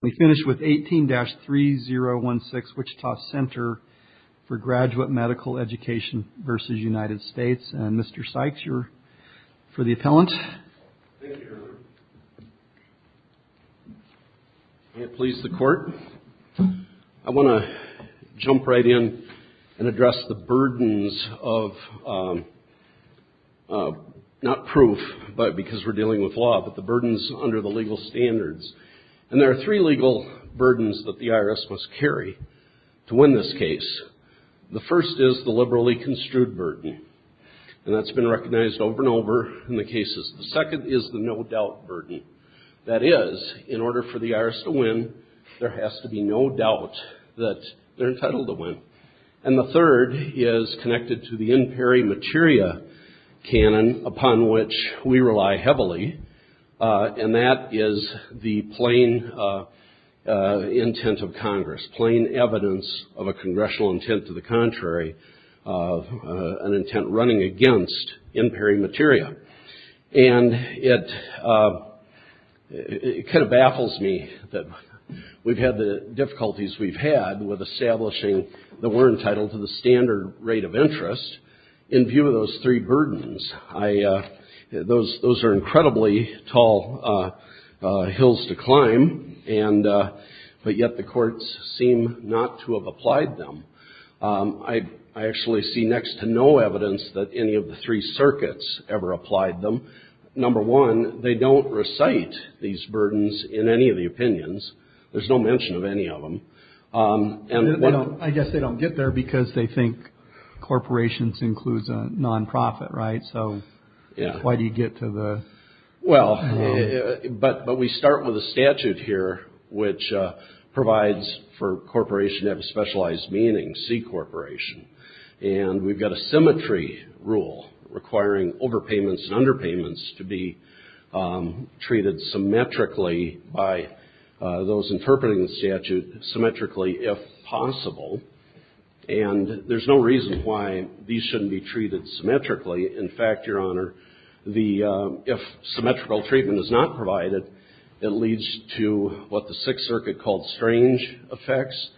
We finish with 18-3016, Wichita Center for Graduate Medical Education v. United States. And Mr. Sykes, you're for the appellant. Thank you, Your Honor. May it please the Court. I want to jump right in and address the burdens of, not proof because we're dealing with law, but the burdens under the legal standards. And there are three legal burdens that the IRS must carry to win this case. The first is the liberally construed burden. And that's been recognized over and over in the cases. The second is the no-doubt burden. That is, in order for the IRS to win, there has to be no doubt that they're entitled to win. And the third is connected to the in peri materia canon, upon which we rely heavily. And that is the plain intent of Congress, plain evidence of a congressional intent to the contrary, an intent running against in peri materia. And it kind of baffles me that we've had the difficulties we've had with establishing that we're entitled to the standard rate of interest in view of those three burdens. Those are incredibly tall hills to climb, but yet the courts seem not to have applied them. I actually see next to no evidence that any of the three circuits ever applied them. Number one, they don't recite these burdens in any of the opinions. There's no mention of any of them. I guess they don't get there because they think corporations includes a nonprofit, right? So why do you get to the- Well, but we start with a statute here, which provides for corporation to have a specialized meaning, C corporation. And we've got a symmetry rule requiring overpayments and underpayments to be treated symmetrically by those And there's no reason why these shouldn't be treated symmetrically. In fact, Your Honor, if symmetrical treatment is not provided, it leads to what the Sixth Circuit called strange effects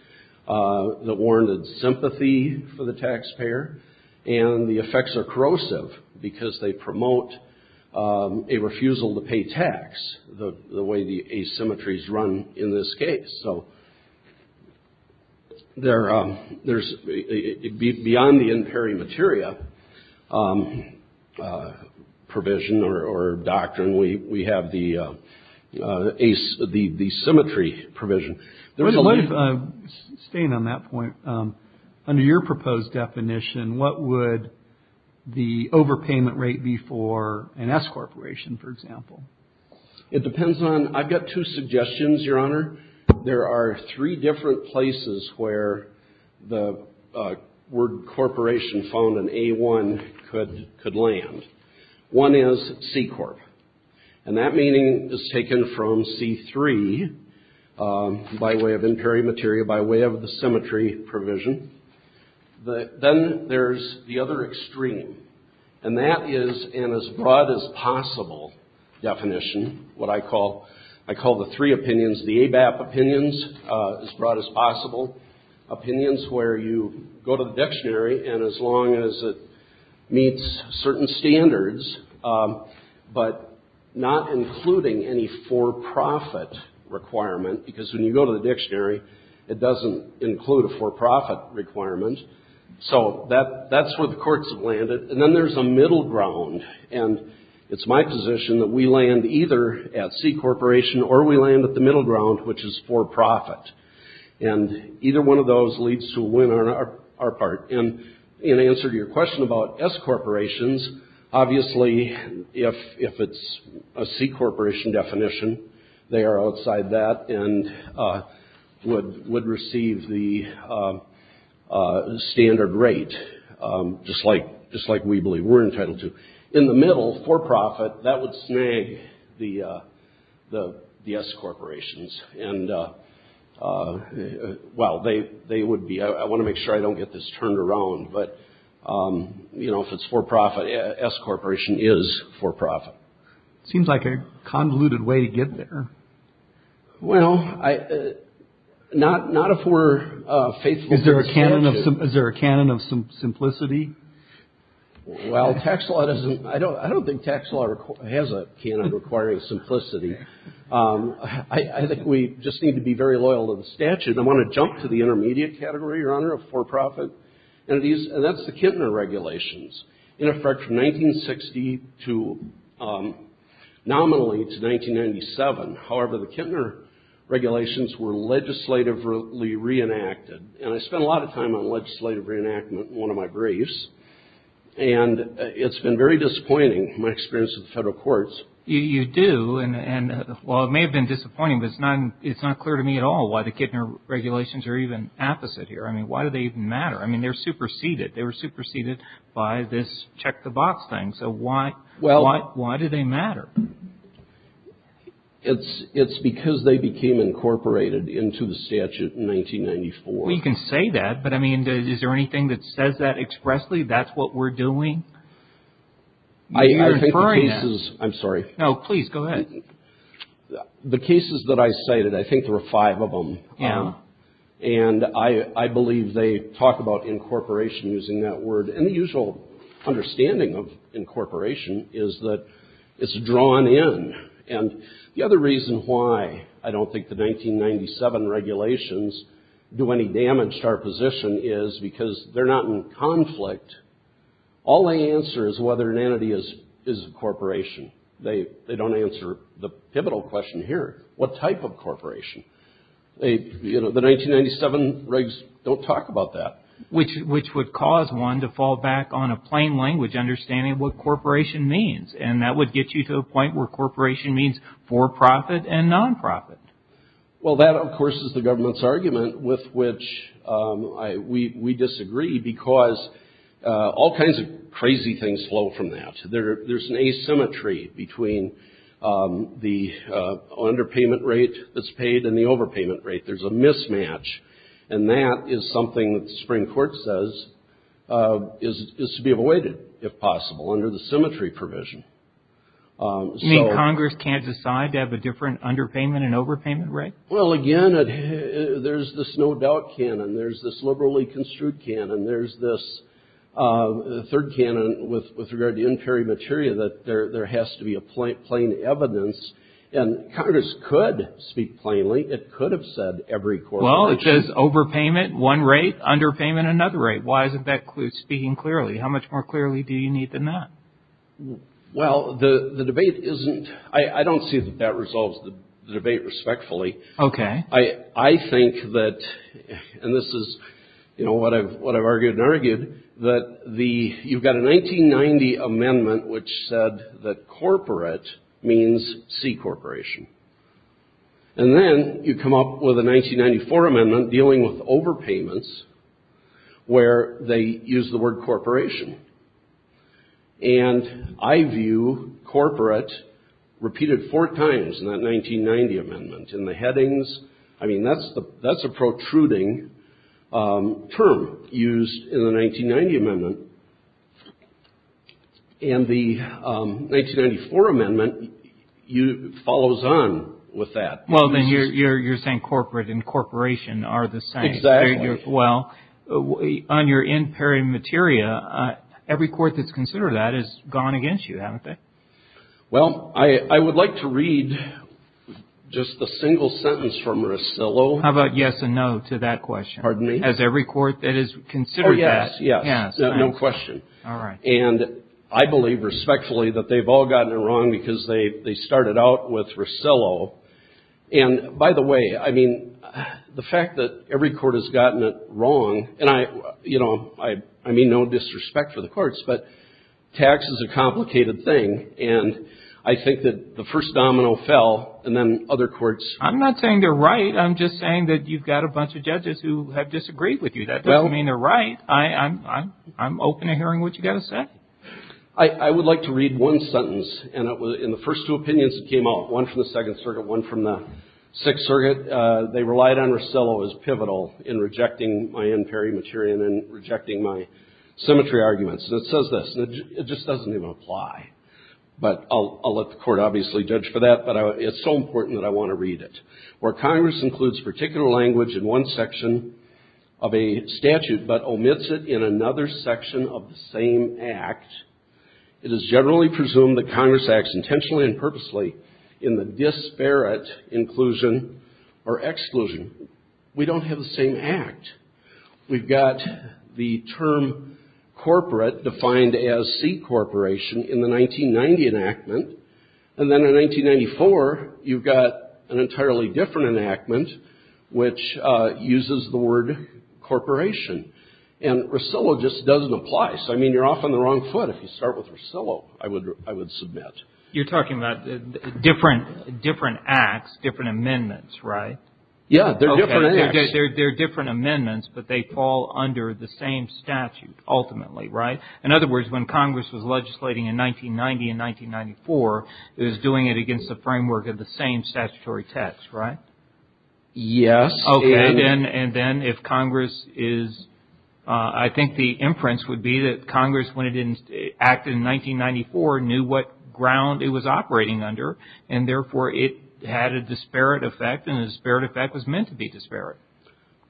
that warranted sympathy for the taxpayer. And the effects are corrosive because they promote a refusal to pay tax, the way the asymmetries run in this case. So beyond the in peri materia provision or doctrine, we have the asymmetry provision. Staying on that point, under your proposed definition, what would the overpayment rate be for an S corporation, for example? It depends on- I've got two suggestions, Your Honor. There are three different places where the word corporation found an A1 could land. One is C corp. And that meaning is taken from C3, by way of in peri materia, by way of the symmetry provision. Then there's the other extreme. And that is an as broad as possible definition, what I call the three opinions. The ABAP opinions, as broad as possible. Opinions where you go to the dictionary, and as long as it meets certain standards, but not including any for-profit requirement. Because when you go to the dictionary, it doesn't include a for-profit requirement. So that's where the courts have landed. And then there's a middle ground. And it's my position that we land either at C corporation or we land at the middle ground, which is for-profit. And either one of those leads to a win on our part. And in answer to your question about S corporations, obviously, if it's a C corporation definition, they are outside that and would receive the standard rate, just like we believe we're entitled to. In the middle, for-profit, that would snag the S corporations. And, well, they would be, I want to make sure I don't get this turned around, but, you know, if it's for-profit, S corporation is for-profit. It seems like a convoluted way to get there. Well, not if we're faithful to the statute. Is there a canon of simplicity? Well, tax law doesn't, I don't think tax law has a canon requiring simplicity. I think we just need to be very loyal to the statute. I want to jump to the intermediate category, Your Honor, of for-profit entities. And that's the Kintner regulations. In effect, from 1960 to, nominally to 1997, however, the Kintner regulations were legislatively reenacted. And I spent a lot of time on legislative reenactment in one of my briefs. And it's been very disappointing, my experience with the federal courts. You do, and, well, it may have been disappointing, but it's not clear to me at all why the Kintner regulations are even opposite here. I mean, why do they even matter? I mean, they're superseded. They were superseded by this check the box thing. So why do they matter? It's because they became incorporated into the statute in 1994. Well, you can say that. But, I mean, is there anything that says that expressly, that's what we're doing? You're inferring that. I'm sorry. No, please, go ahead. The cases that I cited, I think there were five of them. Yeah. And I believe they talk about incorporation using that word. And the usual understanding of incorporation is that it's drawn in. And the other reason why I don't think the 1997 regulations do any damage to our position is because they're not in conflict. All they answer is whether an entity is a corporation. They don't answer the pivotal question here. What type of corporation? You know, the 1997 regs don't talk about that. Which would cause one to fall back on a plain language understanding of what corporation means. And that would get you to a point where corporation means for-profit and non-profit. Well, that, of course, is the government's argument with which we disagree because all kinds of crazy things flow from that. There's an asymmetry between the underpayment rate that's paid and the overpayment rate. There's a mismatch. And that is something that the Supreme Court says is to be avoided, if possible, under the symmetry provision. You mean Congress can't decide to have a different underpayment and overpayment rate? Well, again, there's this no-doubt canon. There's this liberally construed canon. There's this third canon with regard to inferior material that there has to be a plain evidence. And Congress could speak plainly. It could have said every corporation. Well, it says overpayment one rate, underpayment another rate. Why isn't that speaking clearly? How much more clearly do you need than that? Well, the debate isn't – I don't see that that resolves the debate respectfully. Okay. I think that – and this is, you know, what I've argued and argued – that you've got a 1990 amendment which said that corporate means C corporation. And then you come up with a 1994 amendment dealing with overpayments where they use the word corporation. And I view corporate repeated four times in that 1990 amendment in the headings. I mean, that's a protruding term used in the 1990 amendment. And the 1994 amendment follows on with that. Well, then you're saying corporate and corporation are the same. Exactly. Well, on your inferior material, every court that's considered that has gone against you, haven't they? Well, I would like to read just a single sentence from Rosillo. How about yes and no to that question? Pardon me? Has every court that has considered that? Oh, yes. Yes. No question. All right. And I believe respectfully that they've all gotten it wrong because they started out with Rosillo. And by the way, I mean, the fact that every court has gotten it wrong – and I mean no disrespect for the courts, but tax is a complicated thing. And I think that the first domino fell and then other courts – I'm not saying they're right. I'm just saying that you've got a bunch of judges who have disagreed with you. That doesn't mean they're right. I'm open to hearing what you've got to say. I would like to read one sentence. And in the first two opinions that came out, one from the Second Circuit, one from the Sixth Circuit, they relied on Rosillo as pivotal in rejecting my unparalleled material and rejecting my symmetry arguments. And it says this, and it just doesn't even apply. But I'll let the court obviously judge for that. But it's so important that I want to read it. Where Congress includes particular language in one section of a statute but omits it in another section of the same act, it is generally presumed that Congress acts intentionally and purposely in the disparate inclusion or exclusion. We don't have the same act. We've got the term corporate defined as C corporation in the 1990 enactment. And then in 1994, you've got an entirely different enactment which uses the word corporation. And Rosillo just doesn't apply. So, I mean, you're off on the wrong foot if you start with Rosillo, I would submit. You're talking about different acts, different amendments, right? Yeah. They're different amendments, but they fall under the same statute ultimately, right? In other words, when Congress was legislating in 1990 and 1994, it was doing it against the framework of the same statutory text, right? Yes. Okay. And then if Congress is, I think the inference would be that Congress, when it acted in 1994, knew what ground it was operating under and, therefore, it had a disparate effect and the disparate effect was meant to be disparate.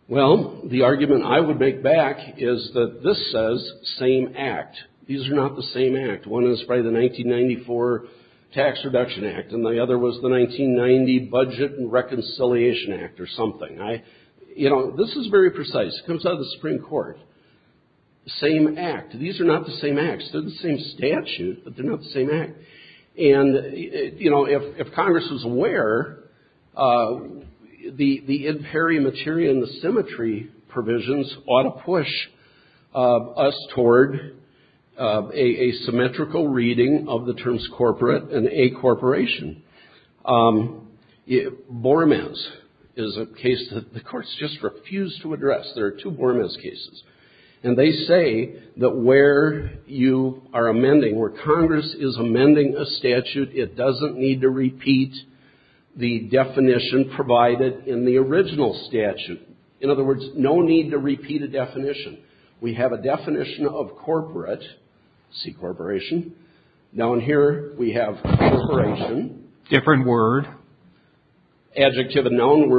Well, the argument I would make back is that this says same act. These are not the same act. One is by the 1994 Tax Reduction Act and the other was the 1990 Budget and Reconciliation Act or something. You know, this is very precise. It comes out of the Supreme Court. Same act. These are not the same acts. They're the same statute, but they're not the same act. And, you know, if Congress was aware, the in peri materia and the symmetry provisions ought to push us toward a symmetrical reading of the terms corporate and a corporation. Bormes is a case that the courts just refuse to address. There are two Bormes cases. And they say that where you are amending, where Congress is amending a statute, it doesn't need to repeat the definition provided in the original statute. In other words, no need to repeat a definition. We have a definition of corporate, see corporation. Down here we have corporation. Different word. Adjective and noun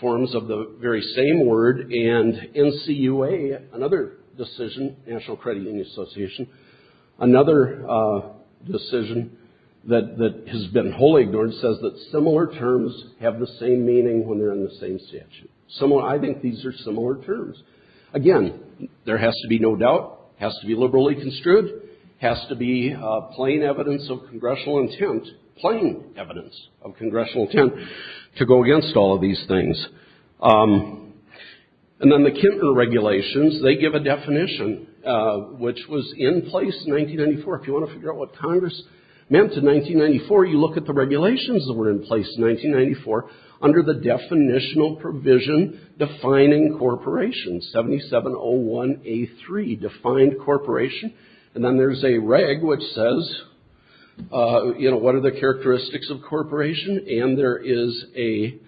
forms of the very same word. And NCUA, another decision, National Credit Union Association, another decision that has been wholly ignored, says that similar terms have the same meaning when they're in the same statute. I think these are similar terms. Again, there has to be no doubt. Has to be liberally construed. Has to be plain evidence of congressional intent, plain evidence of congressional intent, to go against all of these things. And then the Kinter regulations, they give a definition, which was in place in 1994. If you want to figure out what Congress meant in 1994, you look at the regulations that were in place in 1994 under the definitional provision defining corporation, 7701A3, defined corporation. And then there's a reg which says, you know, what are the characteristics of corporation? And there is a,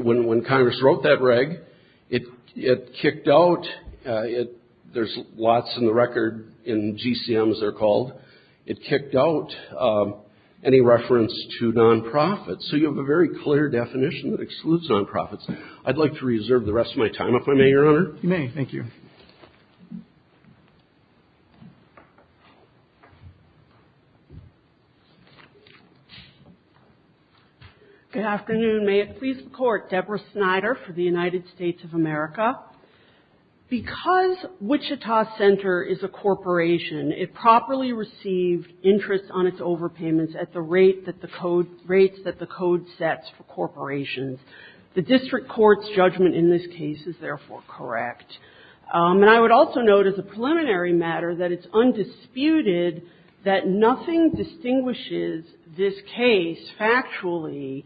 when Congress wrote that reg, it kicked out, there's lots in the record, in GCMs they're called, it kicked out any reference to non-profits. So you have a very clear definition that excludes non-profits. I'd like to reserve the rest of my time, if I may, Your Honor. Roberts. You may. Thank you. Good afternoon. May it please the Court. Deborah Snyder for the United States of America. Because Wichita Center is a corporation, it properly received interest on its overpayments at the rate that the code, rates that the code sets for corporations. The district court's judgment in this case is therefore correct. And I would also note as a preliminary matter that it's undisputed that nothing distinguishes this case factually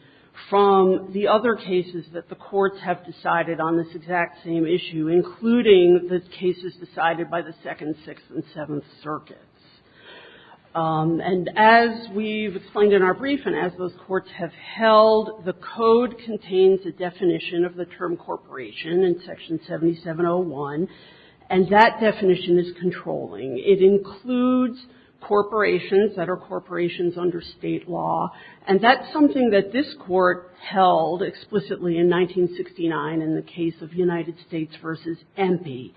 from the other cases that the courts have decided on this exact same issue, including the cases decided by the Second, Sixth, and Seventh Circuits. And as we've explained in our brief, and as those courts have held, the code contains a definition of the term corporation in Section 7701, and that definition is controlling. It includes corporations that are corporations under State law, and that's something that this court held explicitly in 1969 in the case of United States v. Empey,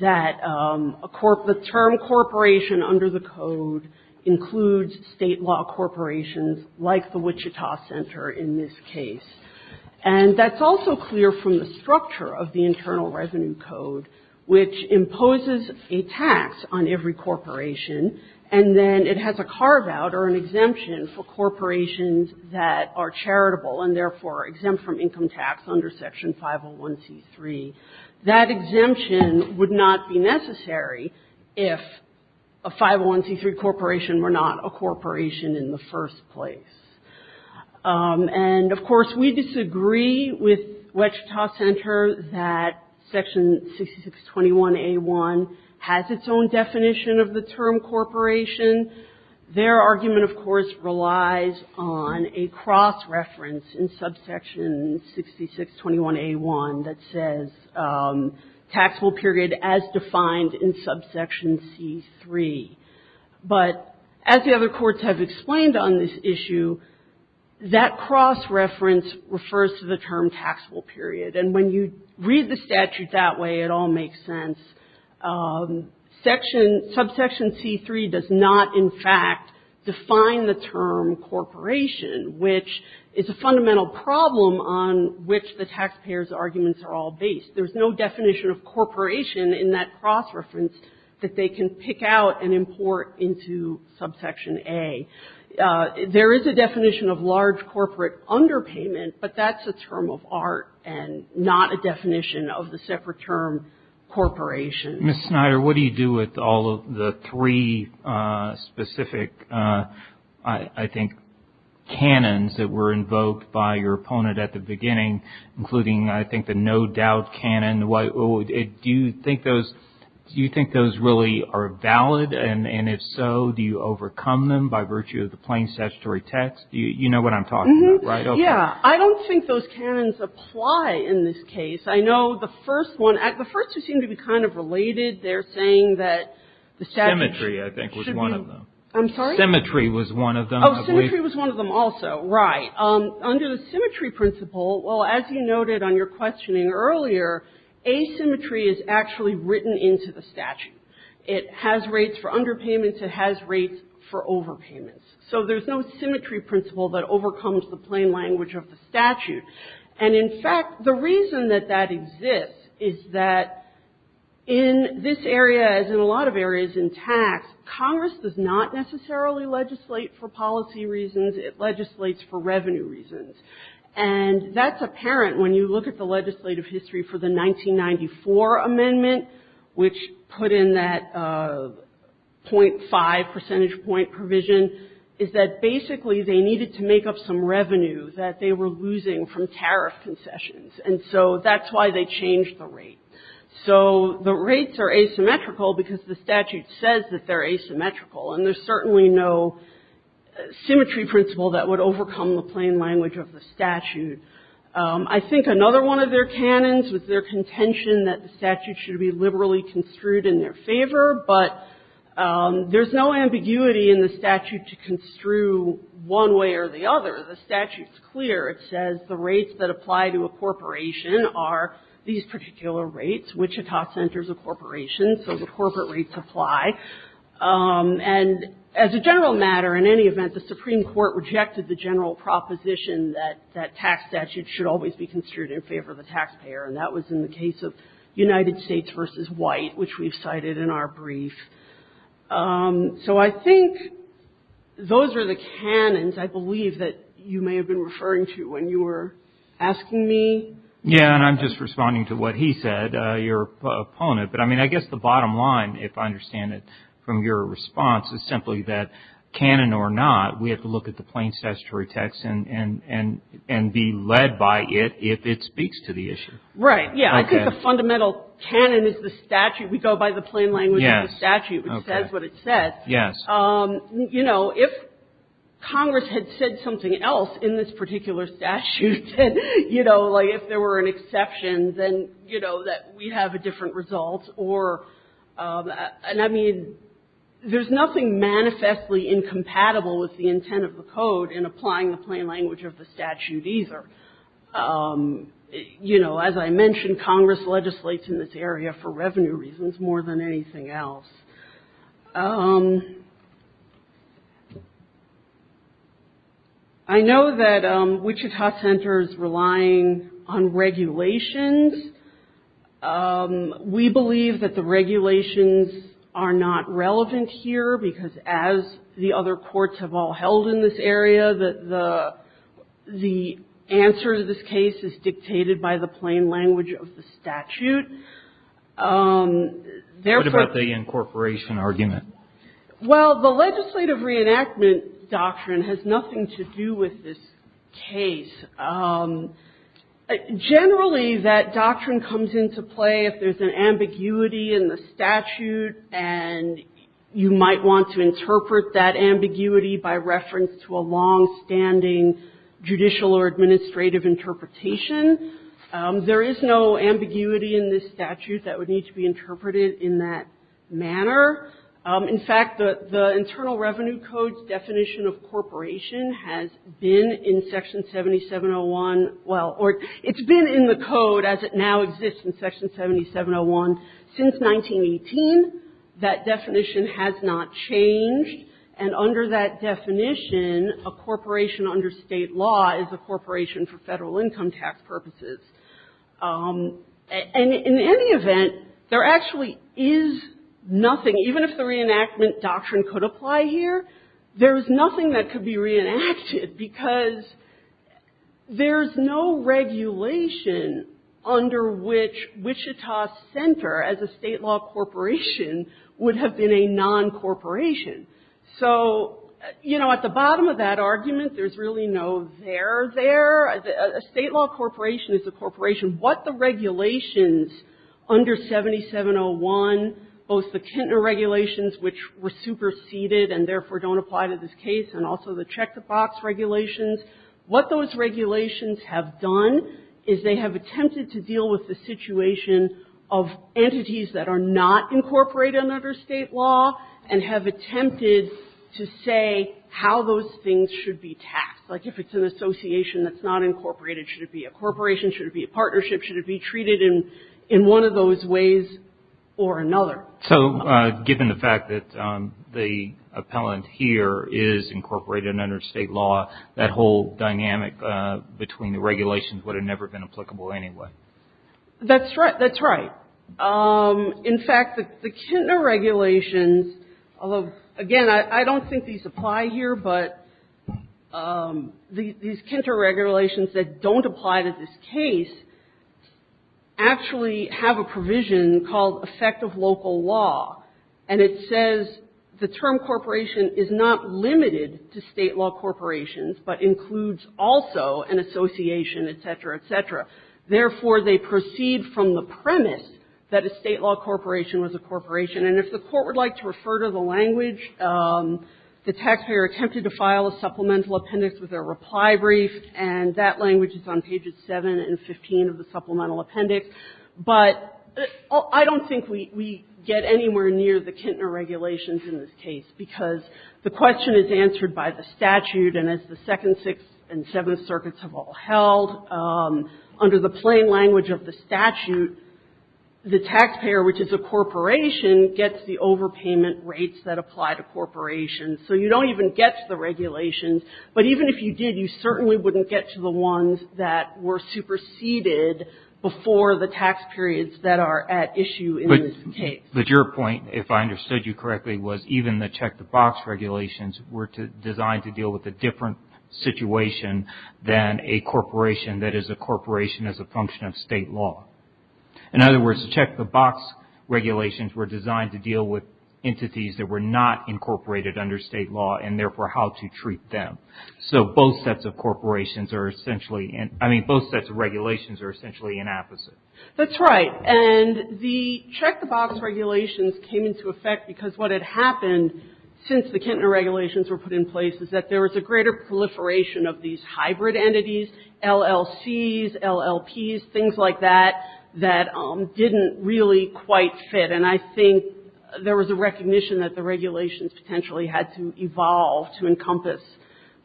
that the term corporation under the code includes State law corporations like the Wichita Center in this case. And that's also clear from the structure of the Internal Revenue Code, which imposes a tax on every corporation, and then it has a carve-out or an exemption for corporations that are charitable and therefore exempt from income tax under Section 501c3. That exemption would not be necessary if a 501c3 corporation were not a corporation in the first place. And, of course, we disagree with Wichita Center that Section 6621a1 has its own definition of the term corporation. Their argument, of course, relies on a cross-reference in Subsection 6621a1 that says taxable period as defined in Subsection c3. But as the other courts have explained on this issue, that cross-reference refers to the term taxable period. And when you read the statute that way, it all makes sense. Section — Subsection c3 does not, in fact, define the term corporation, which is a fundamental problem on which the taxpayers' arguments are all based. There's no definition of corporation in that cross-reference that they can pick out and import into Subsection a. There is a definition of large corporate underpayment, but that's a term of art and not a definition of the separate term corporation. Mr. Snyder, what do you do with all of the three specific, I think, canons that were invoked by your opponent at the beginning, including, I think, the no-doubt canon? Do you think those really are valid? And if so, do you overcome them by virtue of the plain statutory text? You know what I'm talking about, right? Yeah. I don't think those canons apply in this case. I know the first one — the first two seem to be kind of related. They're saying that the statute should be — Symmetry, I think, was one of them. I'm sorry? Symmetry was one of them, I believe. Oh, symmetry was one of them also. Right. Under the symmetry principle, well, as you noted on your questioning earlier, asymmetry is actually written into the statute. It has rates for underpayments. It has rates for overpayments. So there's no symmetry principle that overcomes the plain language of the statute. And, in fact, the reason that that exists is that in this area, as in a lot of areas in tax, Congress does not necessarily legislate for policy reasons. It legislates for revenue reasons. And that's apparent when you look at the legislative history for the 1994 amendment, which put in that .5 percentage point provision, is that basically they needed to make up some revenue that they were losing from tariff concessions. And so that's why they changed the rate. So the rates are asymmetrical because the statute says that they're asymmetrical, and there's certainly no symmetry principle that would overcome the plain language of the statute. I think another one of their canons was their contention that the statute should be liberally construed in their favor. But there's no ambiguity in the statute to construe one way or the other. The statute's clear. It says the rates that apply to a corporation are these particular rates. Wichita centers a corporation, so the corporate rates apply. And as a general matter, in any event, the Supreme Court rejected the general proposition that tax statutes should always be construed in favor of the taxpayer. And that was in the case of United States v. White, which we've cited in our brief. So I think those are the canons, I believe, that you may have been referring to when you were asking me. Yeah, and I'm just responding to what he said, your opponent. But, I mean, I guess the bottom line, if I understand it from your response, is simply that canon or not, we have to look at the plain statutory text and be led by it if it speaks to the issue. Right. Yeah, I think the fundamental canon is the statute. We go by the plain language of the statute, which says what it says. Yes. You know, if Congress had said something else in this particular statute, you know, like if there were an exception, then, you know, that we'd have a different result. And, I mean, there's nothing manifestly incompatible with the intent of the Code in applying the plain language of the statute either. You know, as I mentioned, Congress legislates in this area for revenue reasons more than anything else. I know that Wichita Center is relying on regulations. We believe that the regulations are not relevant here because, as the other courts have all held in this area, that the answer to this case is dictated by the plain language of the statute. What about the incorporation argument? Well, the legislative reenactment doctrine has nothing to do with this case. Generally, that doctrine comes into play if there's an ambiguity in the statute and you might want to interpret that ambiguity by reference to a longstanding judicial or administrative interpretation. There is no ambiguity in this statute that would need to be interpreted in that manner. In fact, the Internal Revenue Code's definition of corporation has been in Section 7701, well, or it's been in the Code as it now exists in Section 7701 since 1918. That definition has not changed, and under that definition, a corporation under State law is a corporation for Federal income tax purposes. And in any event, there actually is nothing, even if the reenactment doctrine could apply here, there is nothing that could be reenacted because there is no regulation under which Wichita Center, as a State law corporation, would have been a non-corporation. So, you know, at the bottom of that argument, there's really no there there. A State law corporation is a corporation. What the regulations under 7701, both the Kintner regulations, which were superseded and therefore don't apply to this case, and also the check-the-box regulations, what those regulations have done is they have attempted to deal with the situation of entities that are not incorporated under State law and have attempted to say how those things should be tasked. Like, if it's an association that's not incorporated, should it be a corporation, should it be a partnership, should it be treated in one of those ways or another? So, given the fact that the appellant here is incorporated under State law, that whole dynamic between the regulations would have never been applicable anyway. That's right. That's right. In fact, the Kintner regulations, again, I don't think these apply here, but these Kintner regulations that don't apply to this case actually have a provision called effect of local law, and it says the term corporation is not limited to State law corporations but includes also an association, et cetera, et cetera. Therefore, they proceed from the premise that a State law corporation was a corporation. And if the Court would like to refer to the language, the taxpayer attempted to file a supplemental appendix with a reply brief, and that language is on pages 7 and 15 of the supplemental appendix. But I don't think we get anywhere near the Kintner regulations in this case, because the question is answered by the statute. And as the Second, Sixth, and Seventh Circuits have all held, under the plain language of the statute, the taxpayer, which is a corporation, gets the overpayment rates that apply to corporations. So you don't even get to the regulations. But even if you did, you certainly wouldn't get to the ones that were superseded before the tax periods that are at issue in this case. But your point, if I understood you correctly, was even the check-the-box regulations were designed to deal with a different situation than a corporation that is a corporation as a function of State law. In other words, the check-the-box regulations were designed to deal with entities that were not incorporated under State law, and therefore how to treat them. So both sets of corporations are essentially, I mean, both sets of regulations are essentially an opposite. That's right. And the check-the-box regulations came into effect because what had happened since the Kintner regulations were put in place is that there was a greater proliferation of these hybrid entities, LLCs, LLPs, things like that, that didn't really quite fit. And I think there was a recognition that the regulations potentially had to evolve to encompass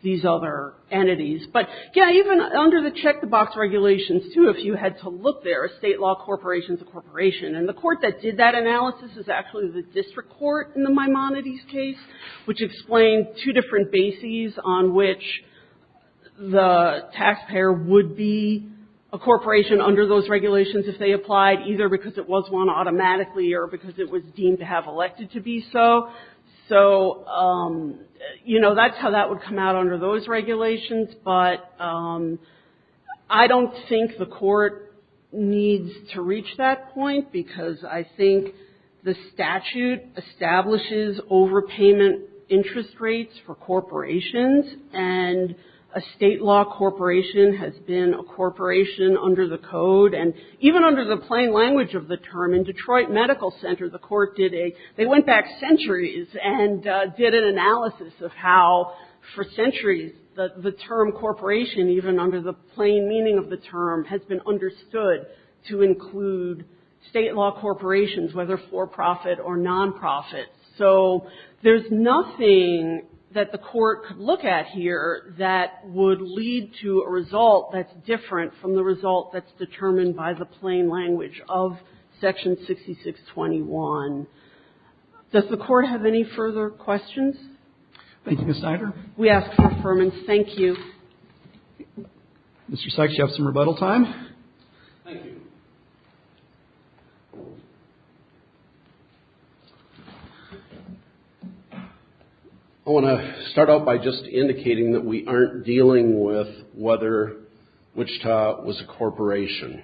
these other entities. But, yeah, even under the check-the-box regulations, too, if you had to look there, a State law corporation is a corporation. And the court that did that analysis is actually the district court in the Maimonides case, which explained two different bases on which the taxpayer would be a corporation under those regulations if they applied, either because it was won automatically or because it was deemed to have elected to be so. So, you know, that's how that would come out under those regulations. But I don't think the court needs to reach that point because I think the statute establishes overpayment interest rates for corporations, and a State law corporation has been a corporation under the code. And even under the plain language of the term, in Detroit Medical Center, the court did a – they went back centuries and did an analysis of how, for centuries, the term corporation, even under the plain meaning of the term, has been understood to include State law corporations, whether for-profit or non-profit. So there's nothing that the court could look at here that would lead to a result that's different from the result that's determined by the plain language of Section 6621. Does the Court have any further questions? Roberts. Thank you, Ms. Snyder. We ask for affirmation. Thank you. Mr. Sykes, do you have some rebuttal time? Thank you. I want to start out by just indicating that we aren't dealing with whether a corporation was a corporation.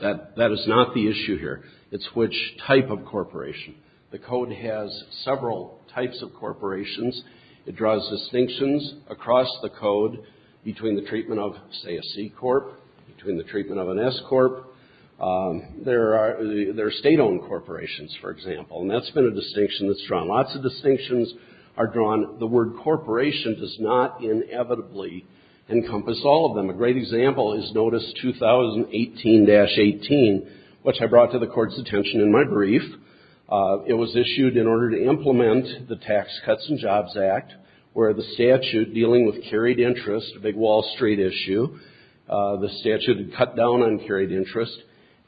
That is not the issue here. It's which type of corporation. The code has several types of corporations. It draws distinctions across the code between the treatment of, say, a C corp, between the treatment of an S corp. There are State-owned corporations, for example, and that's been a distinction that's drawn. Lots of distinctions are drawn. The word corporation does not inevitably encompass all of them. A great example is Notice 2018-18, which I brought to the Court's attention in my brief. It was issued in order to implement the Tax Cuts and Jobs Act, where the statute dealing with carried interest, a big Wall Street issue, the statute had cut down on carried interest.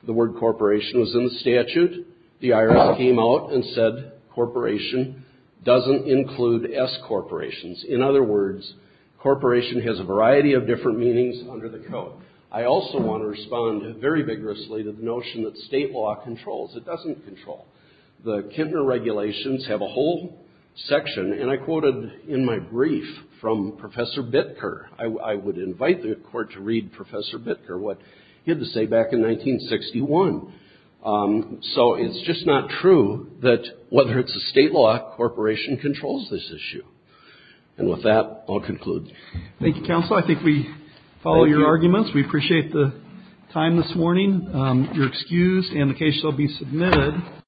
The word corporation was in the statute. The IRS came out and said corporation doesn't include S corporations. In other words, corporation has a variety of different meanings under the code. I also want to respond very vigorously to the notion that State law controls. It doesn't control. The Kintner regulations have a whole section, and I quoted in my brief from Professor Bittker. I would invite the Court to read Professor Bittker what he had to say back in 1961. So it's just not true that whether it's a State law, corporation controls this issue. And with that, I'll conclude. Thank you, Counselor. I think we follow your arguments. We appreciate the time this morning. You're excused, and the case shall be submitted.